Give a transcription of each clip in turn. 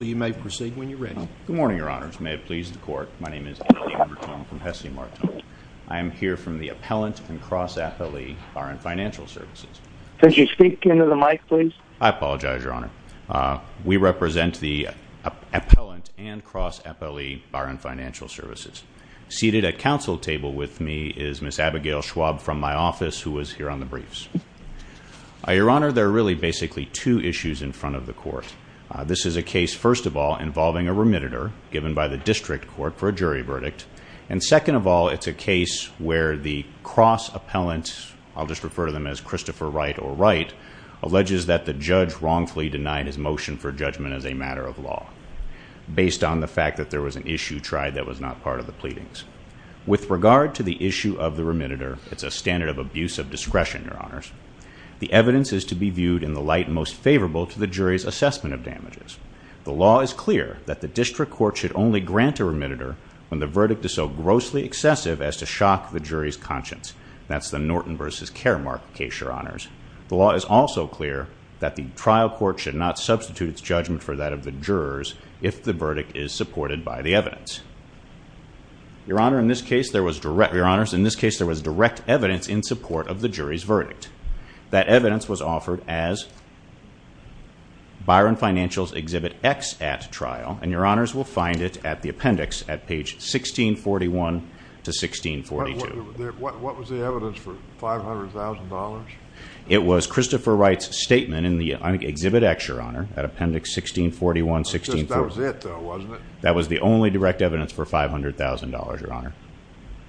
Appellant and Cross-FLE Byron Financial Services Seated at counsel table with me is Ms. Abigail Schwab from my office who was here on the briefs. Your Honor, there are really basically two issues in front of the court. This is a case, first of all, involving a remitter given by the district court for a jury verdict, and second of all, it's a case where the cross-appellant, I'll just refer to them as Christopher Wright or Wright, alleges that the judge wrongfully denied his motion for judgment as a matter of law based on the fact that there was an issue tried that was not part of the pleadings. With regard to the issue of the remitter, it's a standard of abuse of discretion, Your Honors, the evidence is to be viewed in the light most favorable to the jury's assessment of damages. The law is clear that the district court should only grant a remitter when the verdict is so grossly excessive as to shock the jury's conscience. That's the Norton v. Caremark case, Your Honors. The law is also clear that the trial court should not substitute its judgment for that of the jurors if the verdict is supported by the evidence. Your Honor, in this case there was direct evidence in support of the jury's verdict. That evidence was offered as Byron Financial's Exhibit X at trial, and Your Honors will find it at the appendix at page 1641 to 1642. What was the evidence for $500,000? It was Christopher Wright's statement in the Exhibit X, Your Honor, at appendix 1641 to 1642. That was it, though, wasn't it? That was the only direct evidence for $500,000, Your Honor.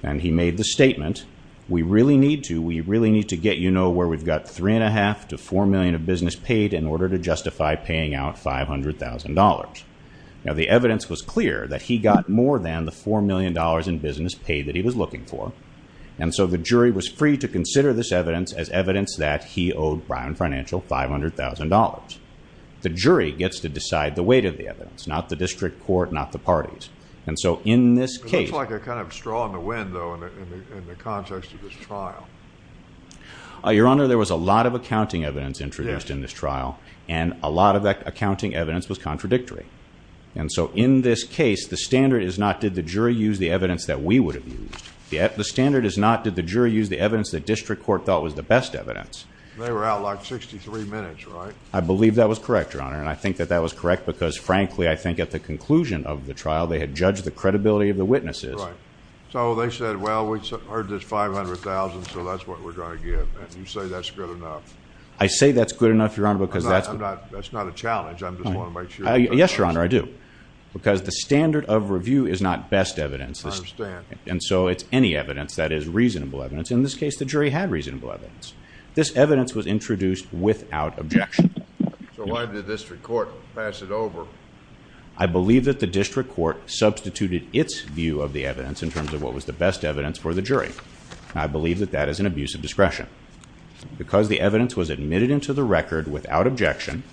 And he made the statement, we really need to, we really need to get you to know where we've got $3.5 million to $4 million of business paid in order to justify paying out $500,000. Now the evidence was clear that he got more than the $4 million in business paid that he was looking for, and so the jury was free to consider this evidence as evidence that he owed Byron Financial $500,000. The jury gets to decide the weight of the evidence, not the district court, not the parties. And so in this case... It looks like a kind of straw in the wind, though, in the context of this trial. Your Honor, there was a lot of accounting evidence introduced in this trial, and a lot of that accounting evidence was contradictory. And so in this case, the standard is not did the jury use the evidence that we would have used. The standard is not did the jury use the evidence that district court thought was the best evidence. They were outlawed 63 minutes, right? I believe that was correct, Your Honor, and I think that that was correct because, frankly, I think at the conclusion of the trial they had judged the credibility of the witnesses. Right. So they said, well, we heard there's $500,000, so that's what we're going to give. And you say that's good enough. I say that's good enough, Your Honor, because that's... That's not a challenge. I just want to make sure. Yes, Your Honor, I do. Because the standard of review is not best evidence. I understand. And so it's any evidence that is reasonable evidence. In this case, the jury had reasonable evidence. This evidence was introduced without objection. So why did the district court pass it over? I believe that the district court substituted its view of the evidence I believe that that is an abuse of discretion. Because the evidence was admitted into the record without objection,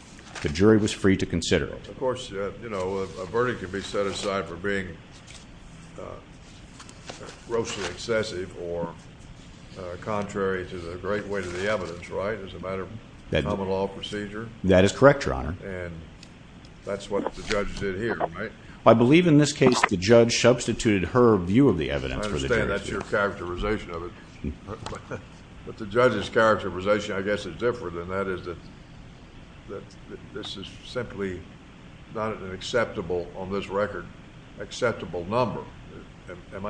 the jury was free to consider it. Of course, you know, a verdict can be set aside for being grossly excessive or contrary to the great weight of the evidence, right, as a matter of common law procedure? That is correct, Your Honor. And that's what the judge did here, right? I believe in this case the judge substituted her view of the evidence for the jury's view. I understand. That's your characterization of it. But the judge's characterization, I guess, is different. And that is that this is simply not an acceptable, on this record, acceptable number. Am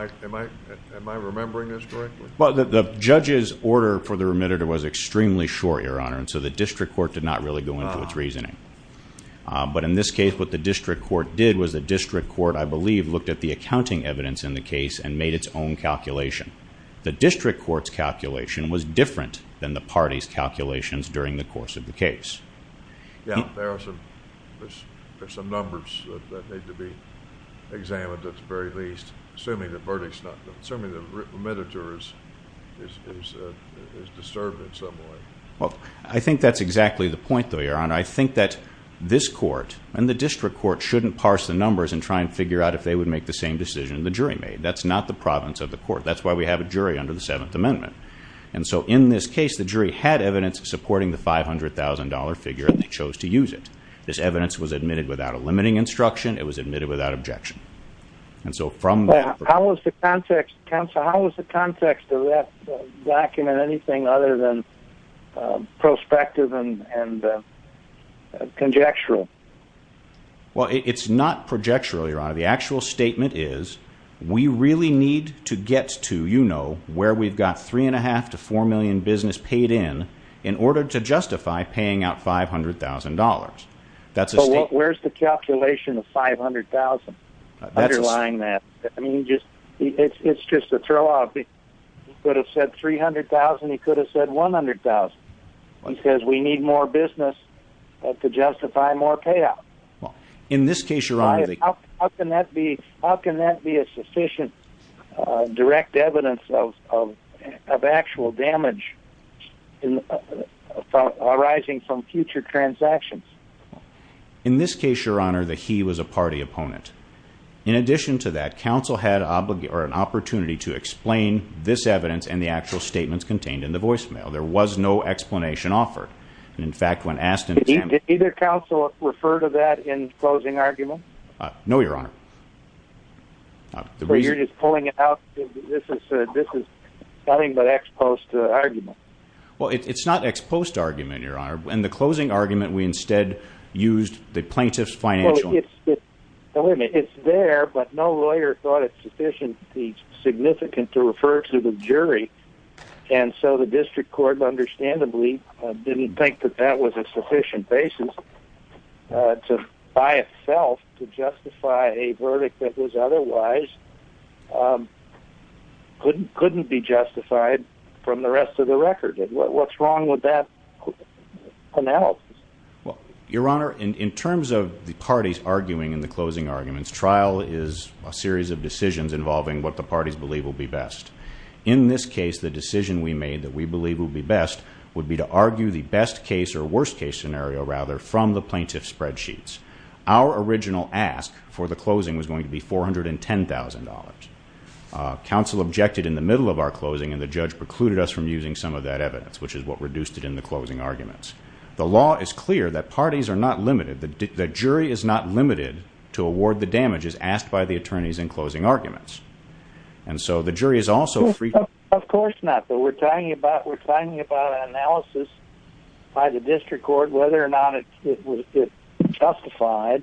I remembering this correctly? Well, the judge's order for the remitter was extremely short, Your Honor, and so the district court did not really go into its reasoning. But in this case, what the district court did was the district court, I believe, looked at the accounting evidence in the case and made its own calculation. The district court's calculation was different than the party's calculations during the course of the case. Yeah, there are some numbers that need to be examined at the very least, assuming the remitter is disturbed in some way. Well, I think that's exactly the point, though, Your Honor. I think that this court and the district court shouldn't parse the numbers and try and figure out if they would make the same decision the jury made. That's not the province of the court. That's why we have a jury under the Seventh Amendment. And so in this case, the jury had evidence supporting the $500,000 figure, and they chose to use it. This evidence was admitted without a limiting instruction. It was admitted without objection. Well, how was the context, counsel? How was the context of that document anything other than prospective and conjectural? Well, it's not conjectural, Your Honor. The actual statement is, we really need to get to, you know, where we've got $3.5 million to $4 million business paid in in order to justify paying out $500,000. So where's the calculation of $500,000 underlying that? I mean, it's just a throwout. He could have said $300,000. He could have said $100,000. He says we need more business to justify more payout. How can that be a sufficient direct evidence of actual damage arising from future transactions? In this case, Your Honor, the he was a party opponent. In addition to that, counsel had an opportunity to explain this evidence and the actual statements contained in the voicemail. There was no explanation offered. Did either counsel refer to that in closing argument? No, Your Honor. So you're just pulling it out. This is nothing but ex post argument. Well, it's not ex post argument, Your Honor. In the closing argument, we instead used the plaintiff's financial. Well, it's there, but no lawyer thought it sufficiently significant to refer to the jury. And so the district court, understandably, didn't think that that was a sufficient basis to, by itself, to justify a verdict that was otherwise couldn't be justified from the rest of the record. What's wrong with that analysis? Well, Your Honor, in terms of the parties arguing in the closing arguments, trial is a series of decisions involving what the parties believe will be best. In this case, the decision we made that we believe will be best would be to argue the best case or worst case scenario, rather, from the plaintiff's spreadsheets. Our original ask for the closing was going to be $410,000. Counsel objected in the middle of our closing, and the judge precluded us from using some of that evidence, which is what reduced it in the closing arguments. The law is clear that parties are not limited. The jury is not limited to award the damages asked by the attorneys in closing arguments. And so the jury is also free to... Of course not, but we're talking about an analysis by the district court, whether or not it justified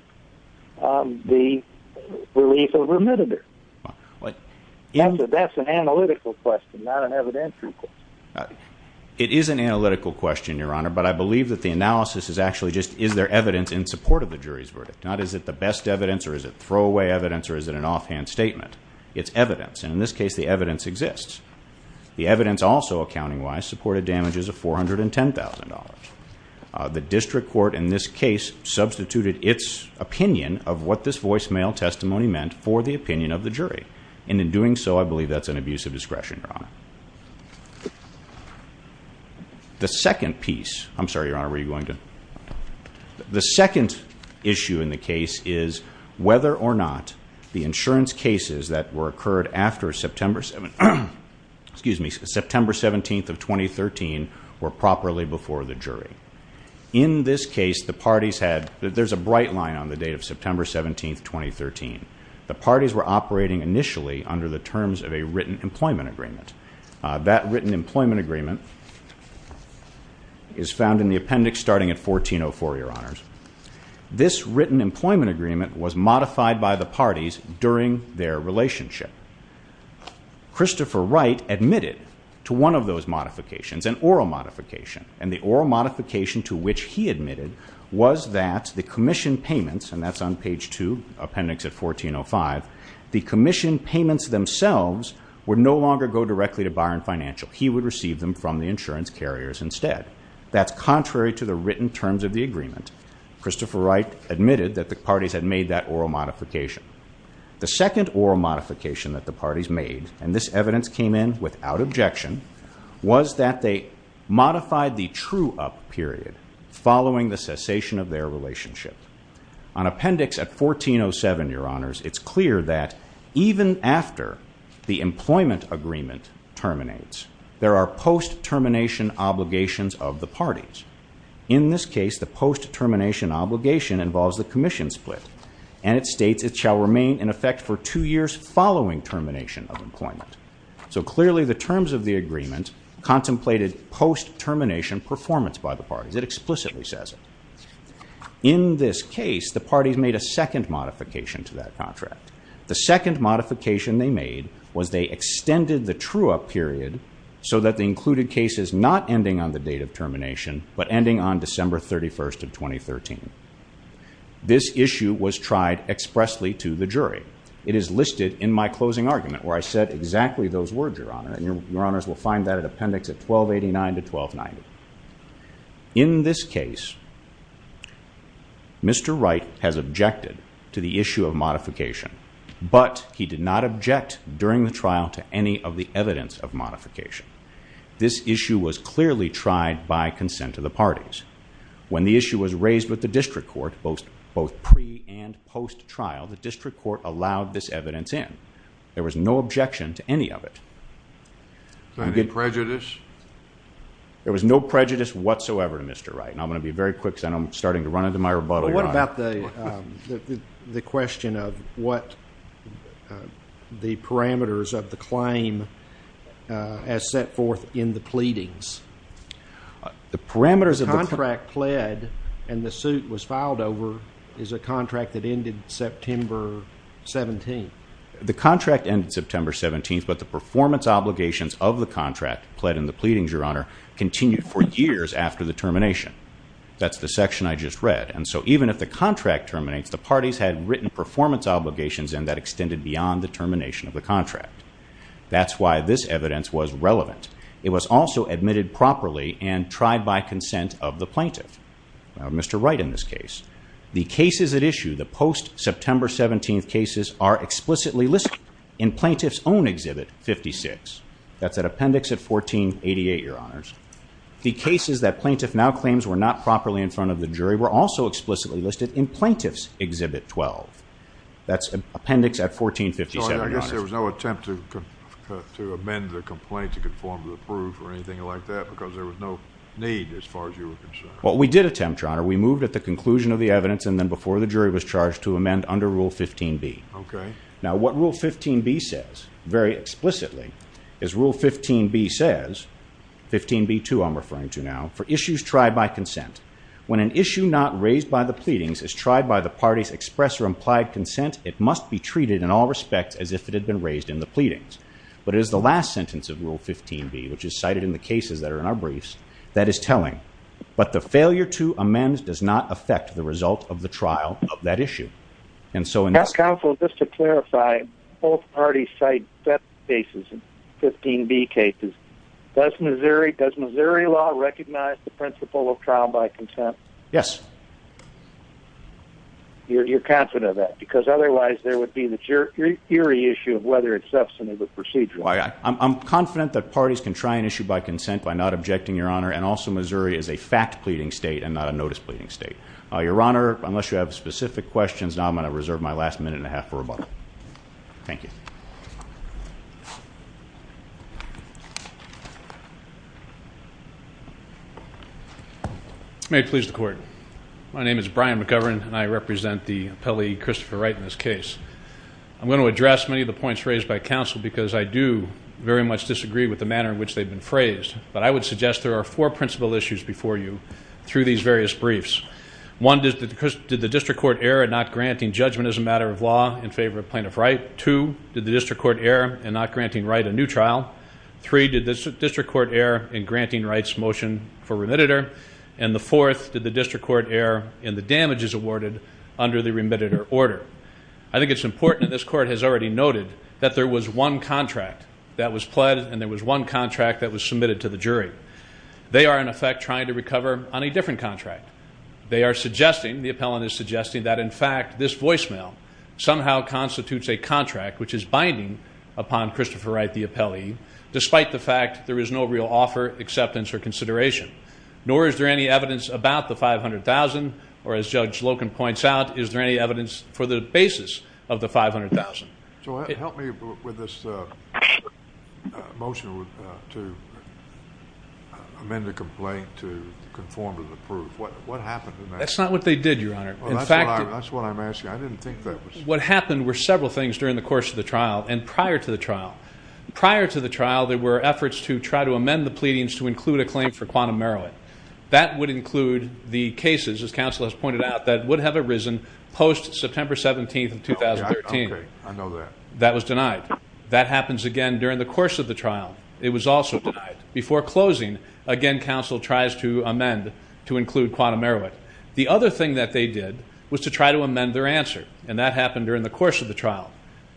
the relief of remittander. That's an analytical question, not an evidentiary question. It is an analytical question, Your Honor, but I believe that the analysis is actually just, is there evidence in support of the jury's verdict? Not is it the best evidence or is it throwaway evidence or is it an offhand statement. It's evidence, and in this case, the evidence exists. The evidence also, accounting-wise, supported damages of $410,000. The district court in this case substituted its opinion of what this voicemail testimony meant for the opinion of the jury, and in doing so, I believe that's an abuse of discretion, Your Honor. The second piece... I'm sorry, Your Honor, were you going to... The second issue in the case is whether or not the insurance cases that were occurred after September 17th of 2013 were properly before the jury. In this case, the parties had... There's a bright line on the date of September 17th, 2013. The parties were operating initially under the terms of a written employment agreement. That written employment agreement is found in the appendix starting at 1404, Your Honors. This written employment agreement was modified by the parties during their relationship. Christopher Wright admitted to one of those modifications, an oral modification, and the oral modification to which he admitted was that the commission payments, and that's on page 2, appendix at 1405, the commission payments themselves would no longer go directly to Byron Financial. He would receive them from the insurance carriers instead. That's contrary to the written terms of the agreement. Christopher Wright admitted that the parties had made that oral modification. The second oral modification that the parties made, and this evidence came in without objection, was that they modified the true-up period following the cessation of their relationship. On appendix at 1407, Your Honors, it's clear that even after the employment agreement terminates, there are post-termination obligations of the parties. In this case, the post-termination obligation involves the commission split, and it states it shall remain in effect for two years following termination of employment. So clearly the terms of the agreement contemplated post-termination performance by the parties. It explicitly says it. In this case, the parties made a second modification to that contract. The second modification they made was they extended the true-up period so that the included case is not ending on the date of termination but ending on December 31st of 2013. This issue was tried expressly to the jury. It is listed in my closing argument where I said exactly those words, Your Honor, and Your Honors will find that in appendix at 1289 to 1290. In this case, Mr. Wright has objected to the issue of modification, but he did not object during the trial to any of the evidence of modification. This issue was clearly tried by consent of the parties. When the issue was raised with the district court, both pre- and post-trial, the district court allowed this evidence in. There was no objection to any of it. Was there any prejudice? There was no prejudice whatsoever to Mr. Wright, and I'm going to be very quick because I'm starting to run into my rebuttal, Your Honor. What about the question of what the parameters of the claim as set forth in the pleadings? The parameters of the contract pled and the suit was filed over is a contract that ended September 17th. The contract ended September 17th, but the performance obligations of the contract pled in the pleadings, Your Honor, continued for years after the termination. That's the section I just read, and so even if the contract terminates, the parties had written performance obligations and that extended beyond the termination of the contract. That's why this evidence was relevant. It was also admitted properly and tried by consent of the plaintiff, Mr. Wright in this case. The cases at issue, the post-September 17th cases, are explicitly listed in plaintiff's own Exhibit 56. That's at appendix at 1488, Your Honors. The cases that plaintiff now claims were not properly in front of the jury were also explicitly listed in plaintiff's Exhibit 12. That's appendix at 1457. I guess there was no attempt to amend the complaint to conform to the proof or anything like that because there was no need as far as you were concerned. Well, we did attempt, Your Honor. We moved at the conclusion of the evidence and then before the jury was charged to amend under Rule 15b. Okay. Now, what Rule 15b says very explicitly is Rule 15b says, 15b2 I'm referring to now, for issues tried by consent, when an issue not raised by the pleadings is tried by the party's express or implied consent, it must be treated in all respects as if it had been raised in the pleadings. But it is the last sentence of Rule 15b, which is cited in the cases that are in our briefs, that is telling. But the failure to amend does not affect the result of the trial of that issue. Counsel, just to clarify, both parties cite that basis in 15b cases. Does Missouri law recognize the principle of trial by consent? Yes. You're confident of that? Because otherwise there would be the eerie issue of whether it's substantive or procedural. I'm confident that parties can try an issue by consent by not objecting, Your Honor, and also Missouri is a fact-pleading state and not a notice-pleading state. Your Honor, unless you have specific questions, now I'm going to reserve my last minute and a half for rebuttal. Thank you. May it please the Court. My name is Brian McGovern, and I represent the appellee Christopher Wright in this case. I'm going to address many of the points raised by counsel because I do very much disagree with the manner in which they've been phrased. But I would suggest there are four principal issues before you through these various briefs. One, did the district court err in not granting judgment as a matter of law in favor of Plaintiff Wright? Two, did the district court err in not granting Wright a new trial? Three, did the district court err in granting Wright's motion for remitter? And the fourth, did the district court err in the damages awarded under the remitter order? I think it's important that this Court has already noted that there was one contract that was pled and there was one contract that was submitted to the jury. They are, in effect, trying to recover on a different contract. They are suggesting, the appellant is suggesting, that, in fact, this voicemail somehow constitutes a contract which is binding upon Christopher Wright, the appellee, despite the fact there is no real offer, acceptance, or consideration. Nor is there any evidence about the $500,000, or as Judge Loken points out, is there any evidence for the basis of the $500,000. So help me with this motion to amend the complaint to conform to the proof. What happened in that? That's not what they did, Your Honor. Well, that's what I'm asking. I didn't think that was... What happened were several things during the course of the trial and prior to the trial. Prior to the trial, there were efforts to try to amend the pleadings to include a claim for quantum merit. That would include the cases, as counsel has pointed out, that would have arisen post-September 17th of 2013. I know that. That was denied. That happens again during the course of the trial. It was also denied. Before closing, again, counsel tries to amend to include quantum merit. The other thing that they did was to try to amend their answer, and that happened during the course of the trial.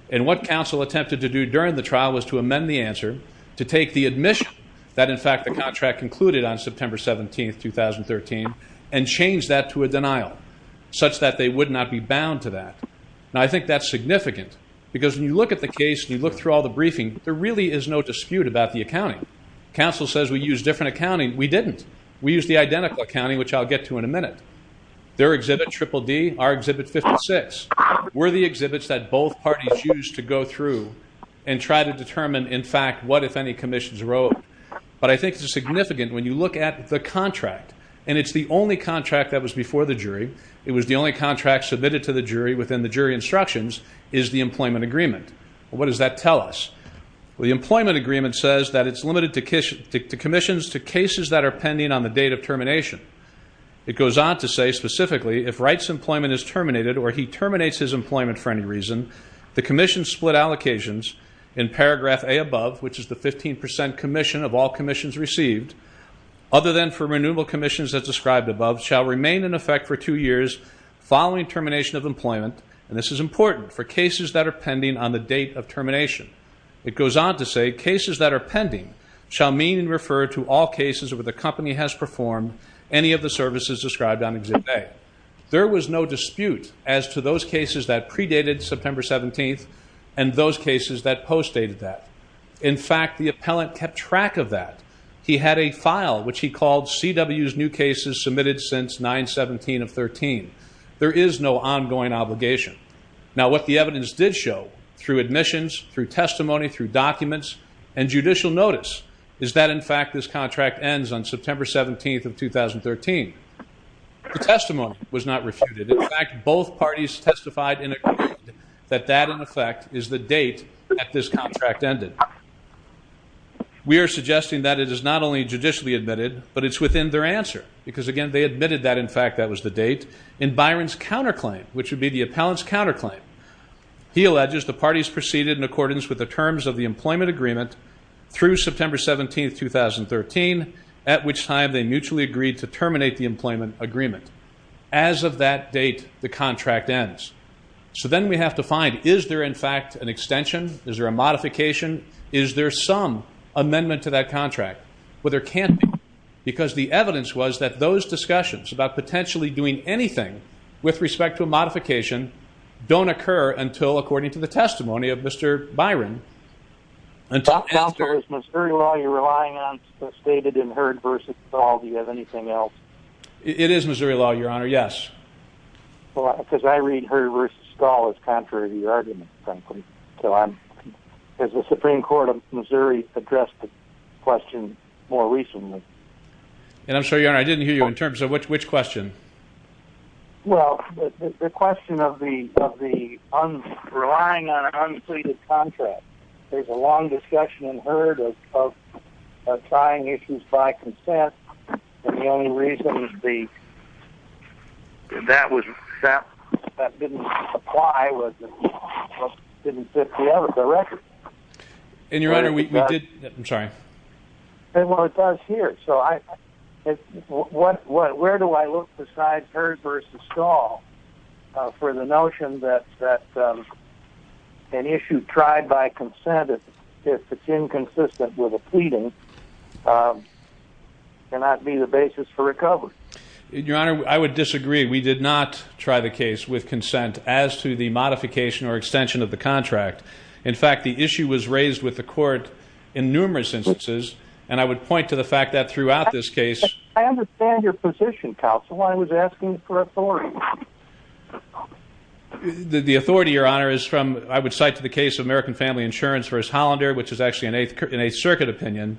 And what counsel attempted to do during the trial was to amend the answer to take the admission that, in fact, the contract concluded on September 17th, 2013, and change that to a denial such that they would not be bound to that. Now, I think that's significant because when you look at the case and you look through all the briefing, there really is no dispute about the accounting. Counsel says we used different accounting. We didn't. We used the identical accounting, which I'll get to in a minute. Their exhibit, Triple D, our exhibit, 56, were the exhibits that both parties used to go through and try to determine, in fact, what, if any, commissions were owed. But I think it's significant when you look at the contract, and it's the only contract that was before the jury, it was the only contract submitted to the jury within the jury instructions, is the employment agreement. What does that tell us? Well, the employment agreement says that it's limited to commissions, to cases that are pending on the date of termination. It goes on to say, specifically, if Wright's employment is terminated or he terminates his employment for any reason, the commission's split allocations in paragraph A above, which is the 15% commission of all commissions received, other than for renewable commissions as described above, shall remain in effect for two years following termination of employment, and this is important, for cases that are pending on the date of termination. It goes on to say, cases that are pending shall mean and refer to all cases where the company has performed any of the services described on exhibit A. There was no dispute as to those cases that predated September 17th and those cases that post-dated that. In fact, the appellant kept track of that. He had a file which he called CW's new cases submitted since 9-17-13. There is no ongoing obligation. Now, what the evidence did show, through admissions, through testimony, through documents, and judicial notice, is that, in fact, this contract ends on September 17th of 2013. The testimony was not refuted. In fact, both parties testified and agreed that that, in effect, is the date that this contract ended. We are suggesting that it is not only judicially admitted, but it's within their answer, because, again, they admitted that, in fact, that was the date. In Byron's counterclaim, which would be the appellant's counterclaim, he alleges the parties proceeded in accordance with the terms of the employment agreement through September 17th, 2013, at which time they mutually agreed to terminate the employment agreement. As of that date, the contract ends. So then we have to find, is there, in fact, an extension? Is there a modification? Is there some amendment to that contract? Well, there can't be, because the evidence was that those discussions about potentially doing anything with respect to a modification don't occur until, according to the testimony of Mr. Byron, Counselor, is Missouri law you're relying on stated in Heard v. Stahl? Do you have anything else? It is Missouri law, Your Honor, yes. Because I read Heard v. Stahl as contrary to your argument, frankly. Has the Supreme Court of Missouri addressed the question more recently? And I'm sorry, Your Honor, I didn't hear you. In terms of which question? Well, the question of the relying on an unflated contract. There's a long discussion in Heard of tying issues by consent, and the only reason that didn't apply was it didn't fit the record. And, Your Honor, we did that. I'm sorry. Well, it does here. Where do I look besides Heard v. Stahl for the notion that an issue tried by consent, if it's inconsistent with a pleading, cannot be the basis for recovery? Your Honor, I would disagree. We did not try the case with consent as to the modification or extension of the contract. In fact, the issue was raised with the Court in numerous instances, and I would point to the fact that throughout this case. I understand your position, counsel. I was asking for authority. The authority, Your Honor, is from, I would cite to the case of American Family Insurance v. Hollander, which is actually an Eighth Circuit opinion,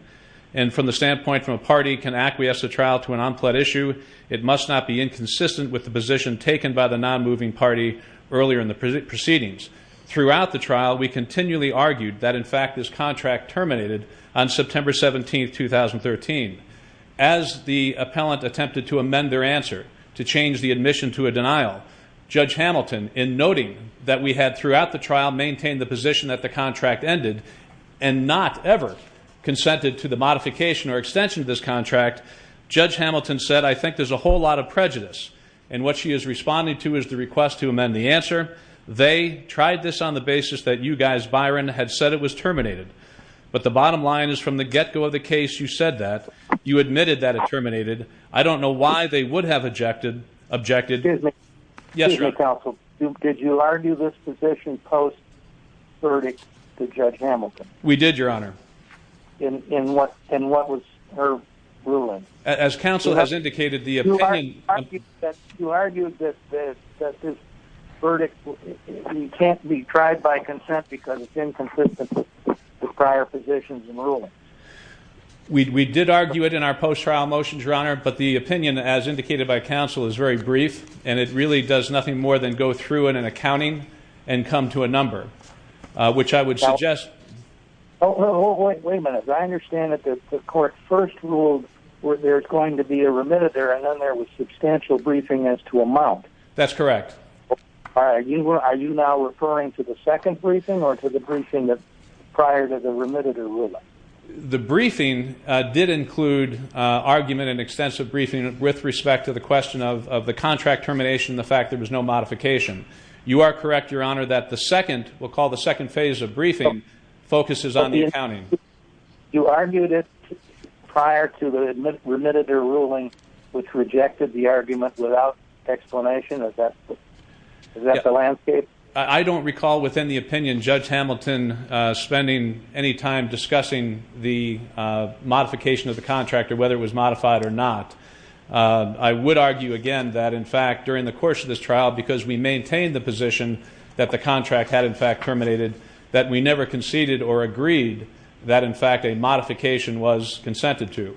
and from the standpoint from a party can acquiesce a trial to an unflat issue, it must not be inconsistent with the position taken by the non-moving party earlier in the proceedings. Throughout the trial, we continually argued that, in fact, this contract terminated on September 17, 2013. As the appellant attempted to amend their answer, to change the admission to a denial, Judge Hamilton, in noting that we had throughout the trial maintained the position that the contract ended and not ever consented to the modification or extension of this contract, Judge Hamilton said, I think there's a whole lot of prejudice. And what she is responding to is the request to amend the answer. They tried this on the basis that you guys, Byron, had said it was terminated. But the bottom line is from the get-go of the case, you said that. You admitted that it terminated. I don't know why they would have objected. Excuse me, counsel. Did you argue this position post-verdict to Judge Hamilton? We did, Your Honor. And what was her ruling? As counsel has indicated, the opinion You argued that this verdict can't be tried by consent because it's inconsistent with prior positions and rulings. We did argue it in our post-trial motions, Your Honor, but the opinion, as indicated by counsel, is very brief, and it really does nothing more than go through in an accounting and come to a number, which I would suggest. Wait a minute. I understand that the court first ruled there's going to be a remitted there and then there was substantial briefing as to amount. That's correct. Are you now referring to the second briefing or to the briefing prior to the remitted ruling? The briefing did include argument and extensive briefing with respect to the question of the contract termination and the fact there was no modification. You are correct, Your Honor, that the second, we'll call the second phase of briefing, focuses on the accounting. You argued it prior to the remitted ruling, which rejected the argument without explanation. Is that the landscape? I don't recall within the opinion Judge Hamilton spending any time discussing the modification of the contract or whether it was modified or not. I would argue again that, in fact, during the course of this trial, because we maintained the position that the contract had, in fact, terminated, that we never conceded or agreed that, in fact, a modification was consented to.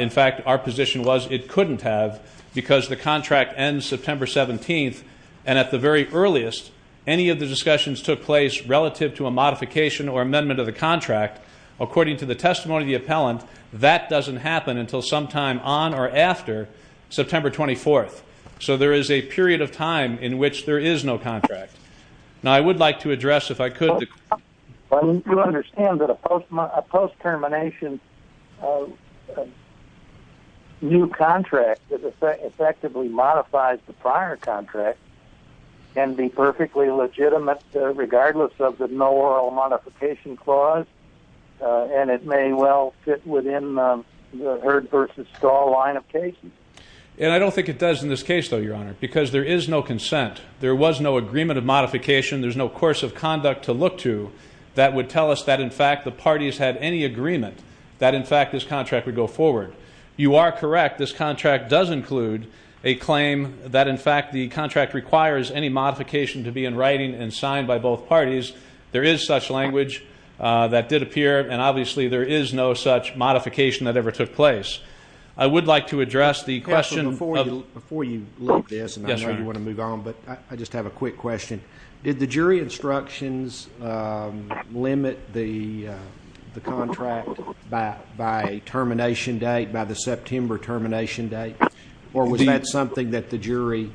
In fact, our position was it couldn't have because the contract ends September 17th, and at the very earliest any of the discussions took place relative to a modification or amendment of the contract. According to the testimony of the appellant, that doesn't happen until sometime on or after September 24th. So there is a period of time in which there is no contract. Now, I would like to address, if I could... Well, you do understand that a post-termination new contract that effectively modifies the prior contract can be perfectly legitimate regardless of the no oral modification clause, and it may well fit within the Heard v. Stahl line of cases. And I don't think it does in this case, though, Your Honor, because there is no consent. There was no agreement of modification. There's no course of conduct to look to that would tell us that, in fact, the parties had any agreement that, in fact, this contract would go forward. You are correct. This contract does include a claim that, in fact, the contract requires any modification to be in writing and signed by both parties. There is such language that did appear, and obviously there is no such modification that ever took place. I would like to address the question of... I just have a quick question. Did the jury instructions limit the contract by termination date, by the September termination date, or was that something that the jury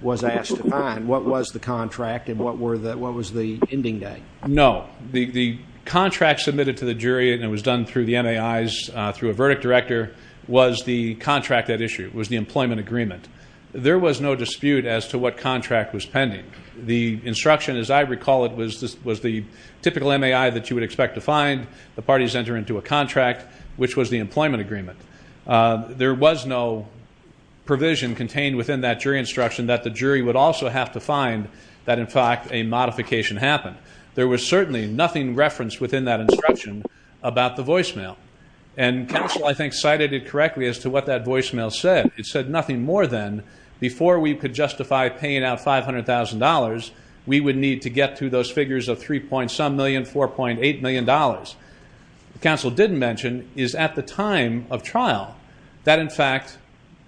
was asked to find? What was the contract, and what was the ending date? No. The contract submitted to the jury, and it was done through the MAIs, through a verdict director, was the contract at issue. It was the employment agreement. There was no dispute as to what contract was pending. The instruction, as I recall it, was the typical MAI that you would expect to find. The parties enter into a contract, which was the employment agreement. There was no provision contained within that jury instruction that the jury would also have to find that, in fact, a modification happened. There was certainly nothing referenced within that instruction about the voicemail. And counsel, I think, cited it correctly as to what that voicemail said. It said nothing more than, before we could justify paying out $500,000, we would need to get to those figures of 3 point some million, $4.8 million. What counsel didn't mention is, at the time of trial, that, in fact,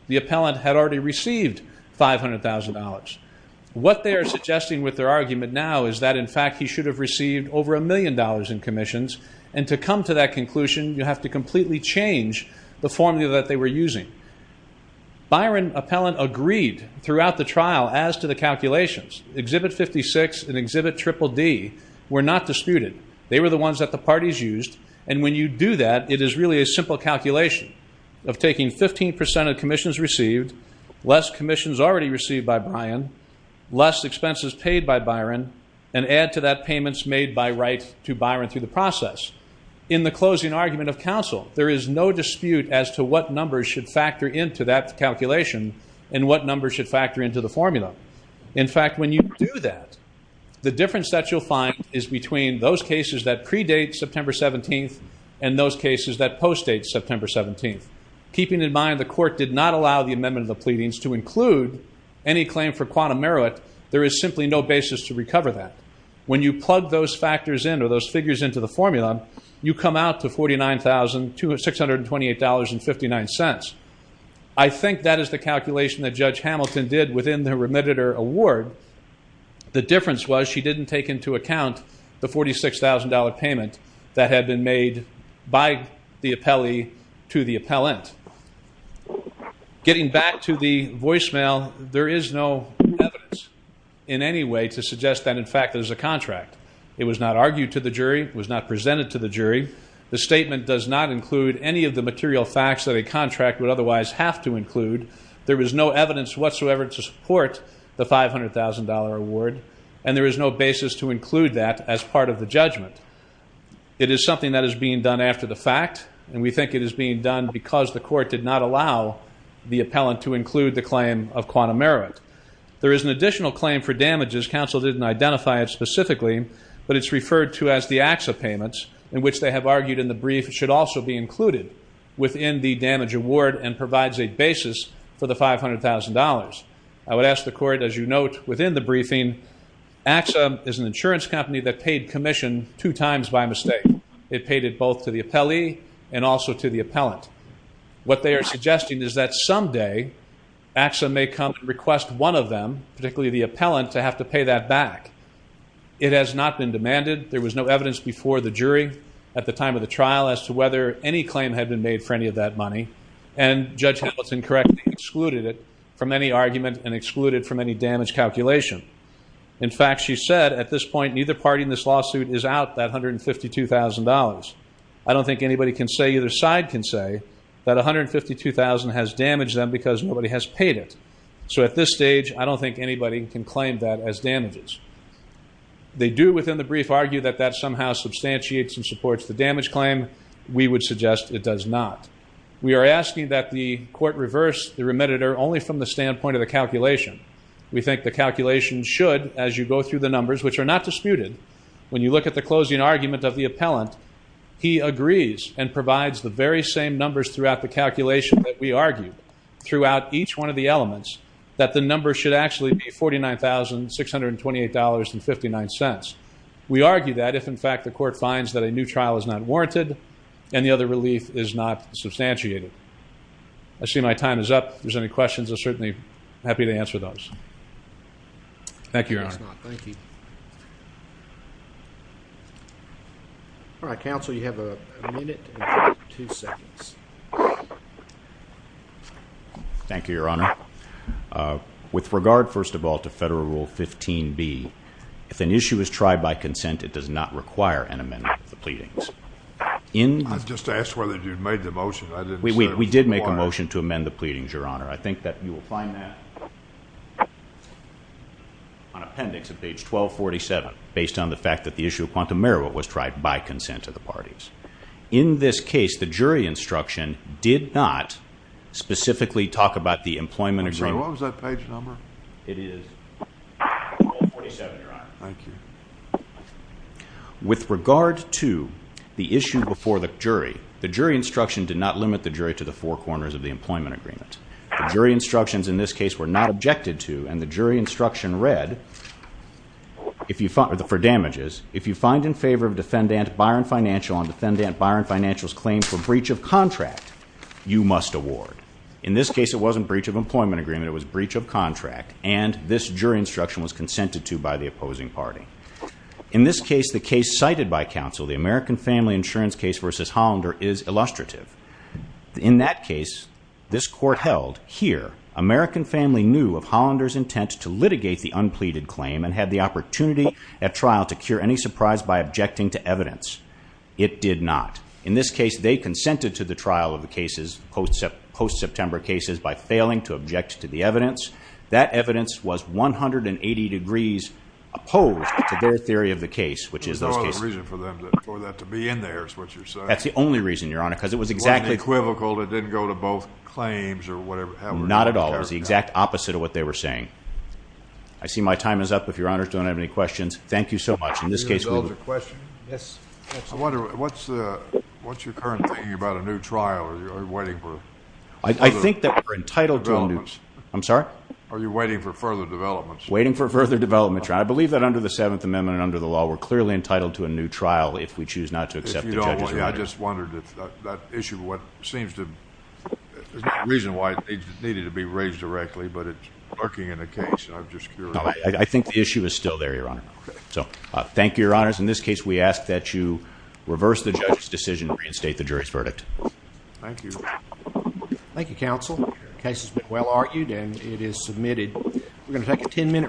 the appellant had already received $500,000. What they are suggesting with their argument now is that, in fact, he should have received over a million dollars in commissions, and to come to that conclusion, you have to completely change the formula that they were using. Byron appellant agreed throughout the trial as to the calculations. Exhibit 56 and Exhibit Triple D were not disputed. They were the ones that the parties used, and when you do that, it is really a simple calculation of taking 15% of commissions received, less commissions already received by Byron, less expenses paid by Byron, and add to that payments made by right to Byron through the process. In the closing argument of counsel, there is no dispute as to what numbers should factor into that calculation and what numbers should factor into the formula. In fact, when you do that, the difference that you'll find is between those cases that predate September 17th and those cases that post-date September 17th. Keeping in mind the court did not allow the amendment of the pleadings to include any claim for quantum merit, there is simply no basis to recover that. When you plug those factors in or those figures into the formula, you come out to $49,628.59. I think that is the calculation that Judge Hamilton did within the remediator award. The difference was she didn't take into account the $46,000 payment that had been made by the appellee to the appellant. Getting back to the voicemail, there is no evidence in any way to suggest that, in fact, there's a contract. It was not argued to the jury. It was not presented to the jury. The statement does not include any of the material facts that a contract would otherwise have to include. There is no evidence whatsoever to support the $500,000 award, and there is no basis to include that as part of the judgment. It is something that is being done after the fact, and we think it is being done because the court did not allow the appellant to include the claim of quantum merit. There is an additional claim for damages. Counsel didn't identify it specifically, but it's referred to as the AXA payments, in which they have argued in the brief it should also be included within the damage award and provides a basis for the $500,000. I would ask the court, as you note within the briefing, AXA is an insurance company that paid commission two times by mistake. It paid it both to the appellee and also to the appellant. What they are suggesting is that someday AXA may come and request one of them, particularly the appellant, to have to pay that back. It has not been demanded. There was no evidence before the jury at the time of the trial as to whether any claim had been made for any of that money, and Judge Hamilton correctly excluded it from any argument and excluded it from any damage calculation. In fact, she said, at this point, neither party in this lawsuit is out that $152,000. I don't think anybody can say, either side can say, that $152,000 has damaged them because nobody has paid it. So at this stage, I don't think anybody can claim that as damages. They do within the brief argue that that somehow substantiates and supports the damage claim. We would suggest it does not. We are asking that the court reverse the remediator only from the standpoint of the calculation. We think the calculation should, as you go through the numbers, which are not disputed, when you look at the closing argument of the appellant, he agrees and provides the very same numbers throughout the calculation that we argued, throughout each one of the elements, that the number should actually be $49,628.59. We argue that if, in fact, the court finds that a new trial is not warranted and the other relief is not substantiated. I see my time is up. If there's any questions, I'm certainly happy to answer those. Thank you, Your Honor. Thank you. All right, counsel, you have a minute and two seconds. Thank you, Your Honor. With regard, first of all, to Federal Rule 15b, if an issue is tried by consent, it does not require an amendment of the pleadings. I just asked whether you'd made the motion. We did make a motion to amend the pleadings, Your Honor. I think that you will find that on appendix of page 1247, based on the fact that the issue of quantum merit was tried by consent of the parties. In this case, the jury instruction did not specifically talk about the employment agreement. I'm sorry, what was that page number? It is 1247, Your Honor. With regard to the issue before the jury, the jury instruction did not limit the jury to the four corners of the employment agreement. The jury instructions in this case were not objected to, and the jury instruction read, for damages, if you find in favor of Defendant Byron Financial on Defendant Byron Financial's claim for breach of contract, you must award. In this case, it wasn't breach of employment agreement. It was breach of contract, and this jury instruction was consented to by the opposing party. In this case, the case cited by counsel, the American Family Insurance case versus Hollander, is illustrative. In that case, this court held, here, American Family knew of Hollander's intent to litigate the unpleaded claim and had the opportunity at trial to cure any surprise by objecting to evidence. It did not. In this case, they consented to the trial of the cases, post-September cases, by failing to object to the evidence. That evidence was 180 degrees opposed to their theory of the case, which is those cases. The only reason for that to be in there is what you're saying. That's the only reason, Your Honor, because it was exactly... It wasn't equivocal. It didn't go to both claims or whatever. Not at all. It was the exact opposite of what they were saying. I see my time is up, if Your Honors don't have any questions. Thank you so much. In this case, we... Can I ask a question? Yes. I wonder, what's your current thinking about a new trial? Are you waiting for... I think that we're entitled to a new... ...developments. I'm sorry? Are you waiting for further developments? Waiting for further developments. I believe that under the Seventh Amendment and under the law, we're clearly entitled to a new trial if we choose not to accept the judge's verdict. I just wondered if that issue, what seems to... There's no reason why it needed to be raised directly, but it's lurking in the case. I'm just curious. I think the issue is still there, Your Honor. So, thank you, Your Honors. In this case, we ask that you reverse the judge's decision and reinstate the jury's verdict. Thank you. Thank you, counsel. The case has been well argued and it is submitted. We're going to take a ten-minute break.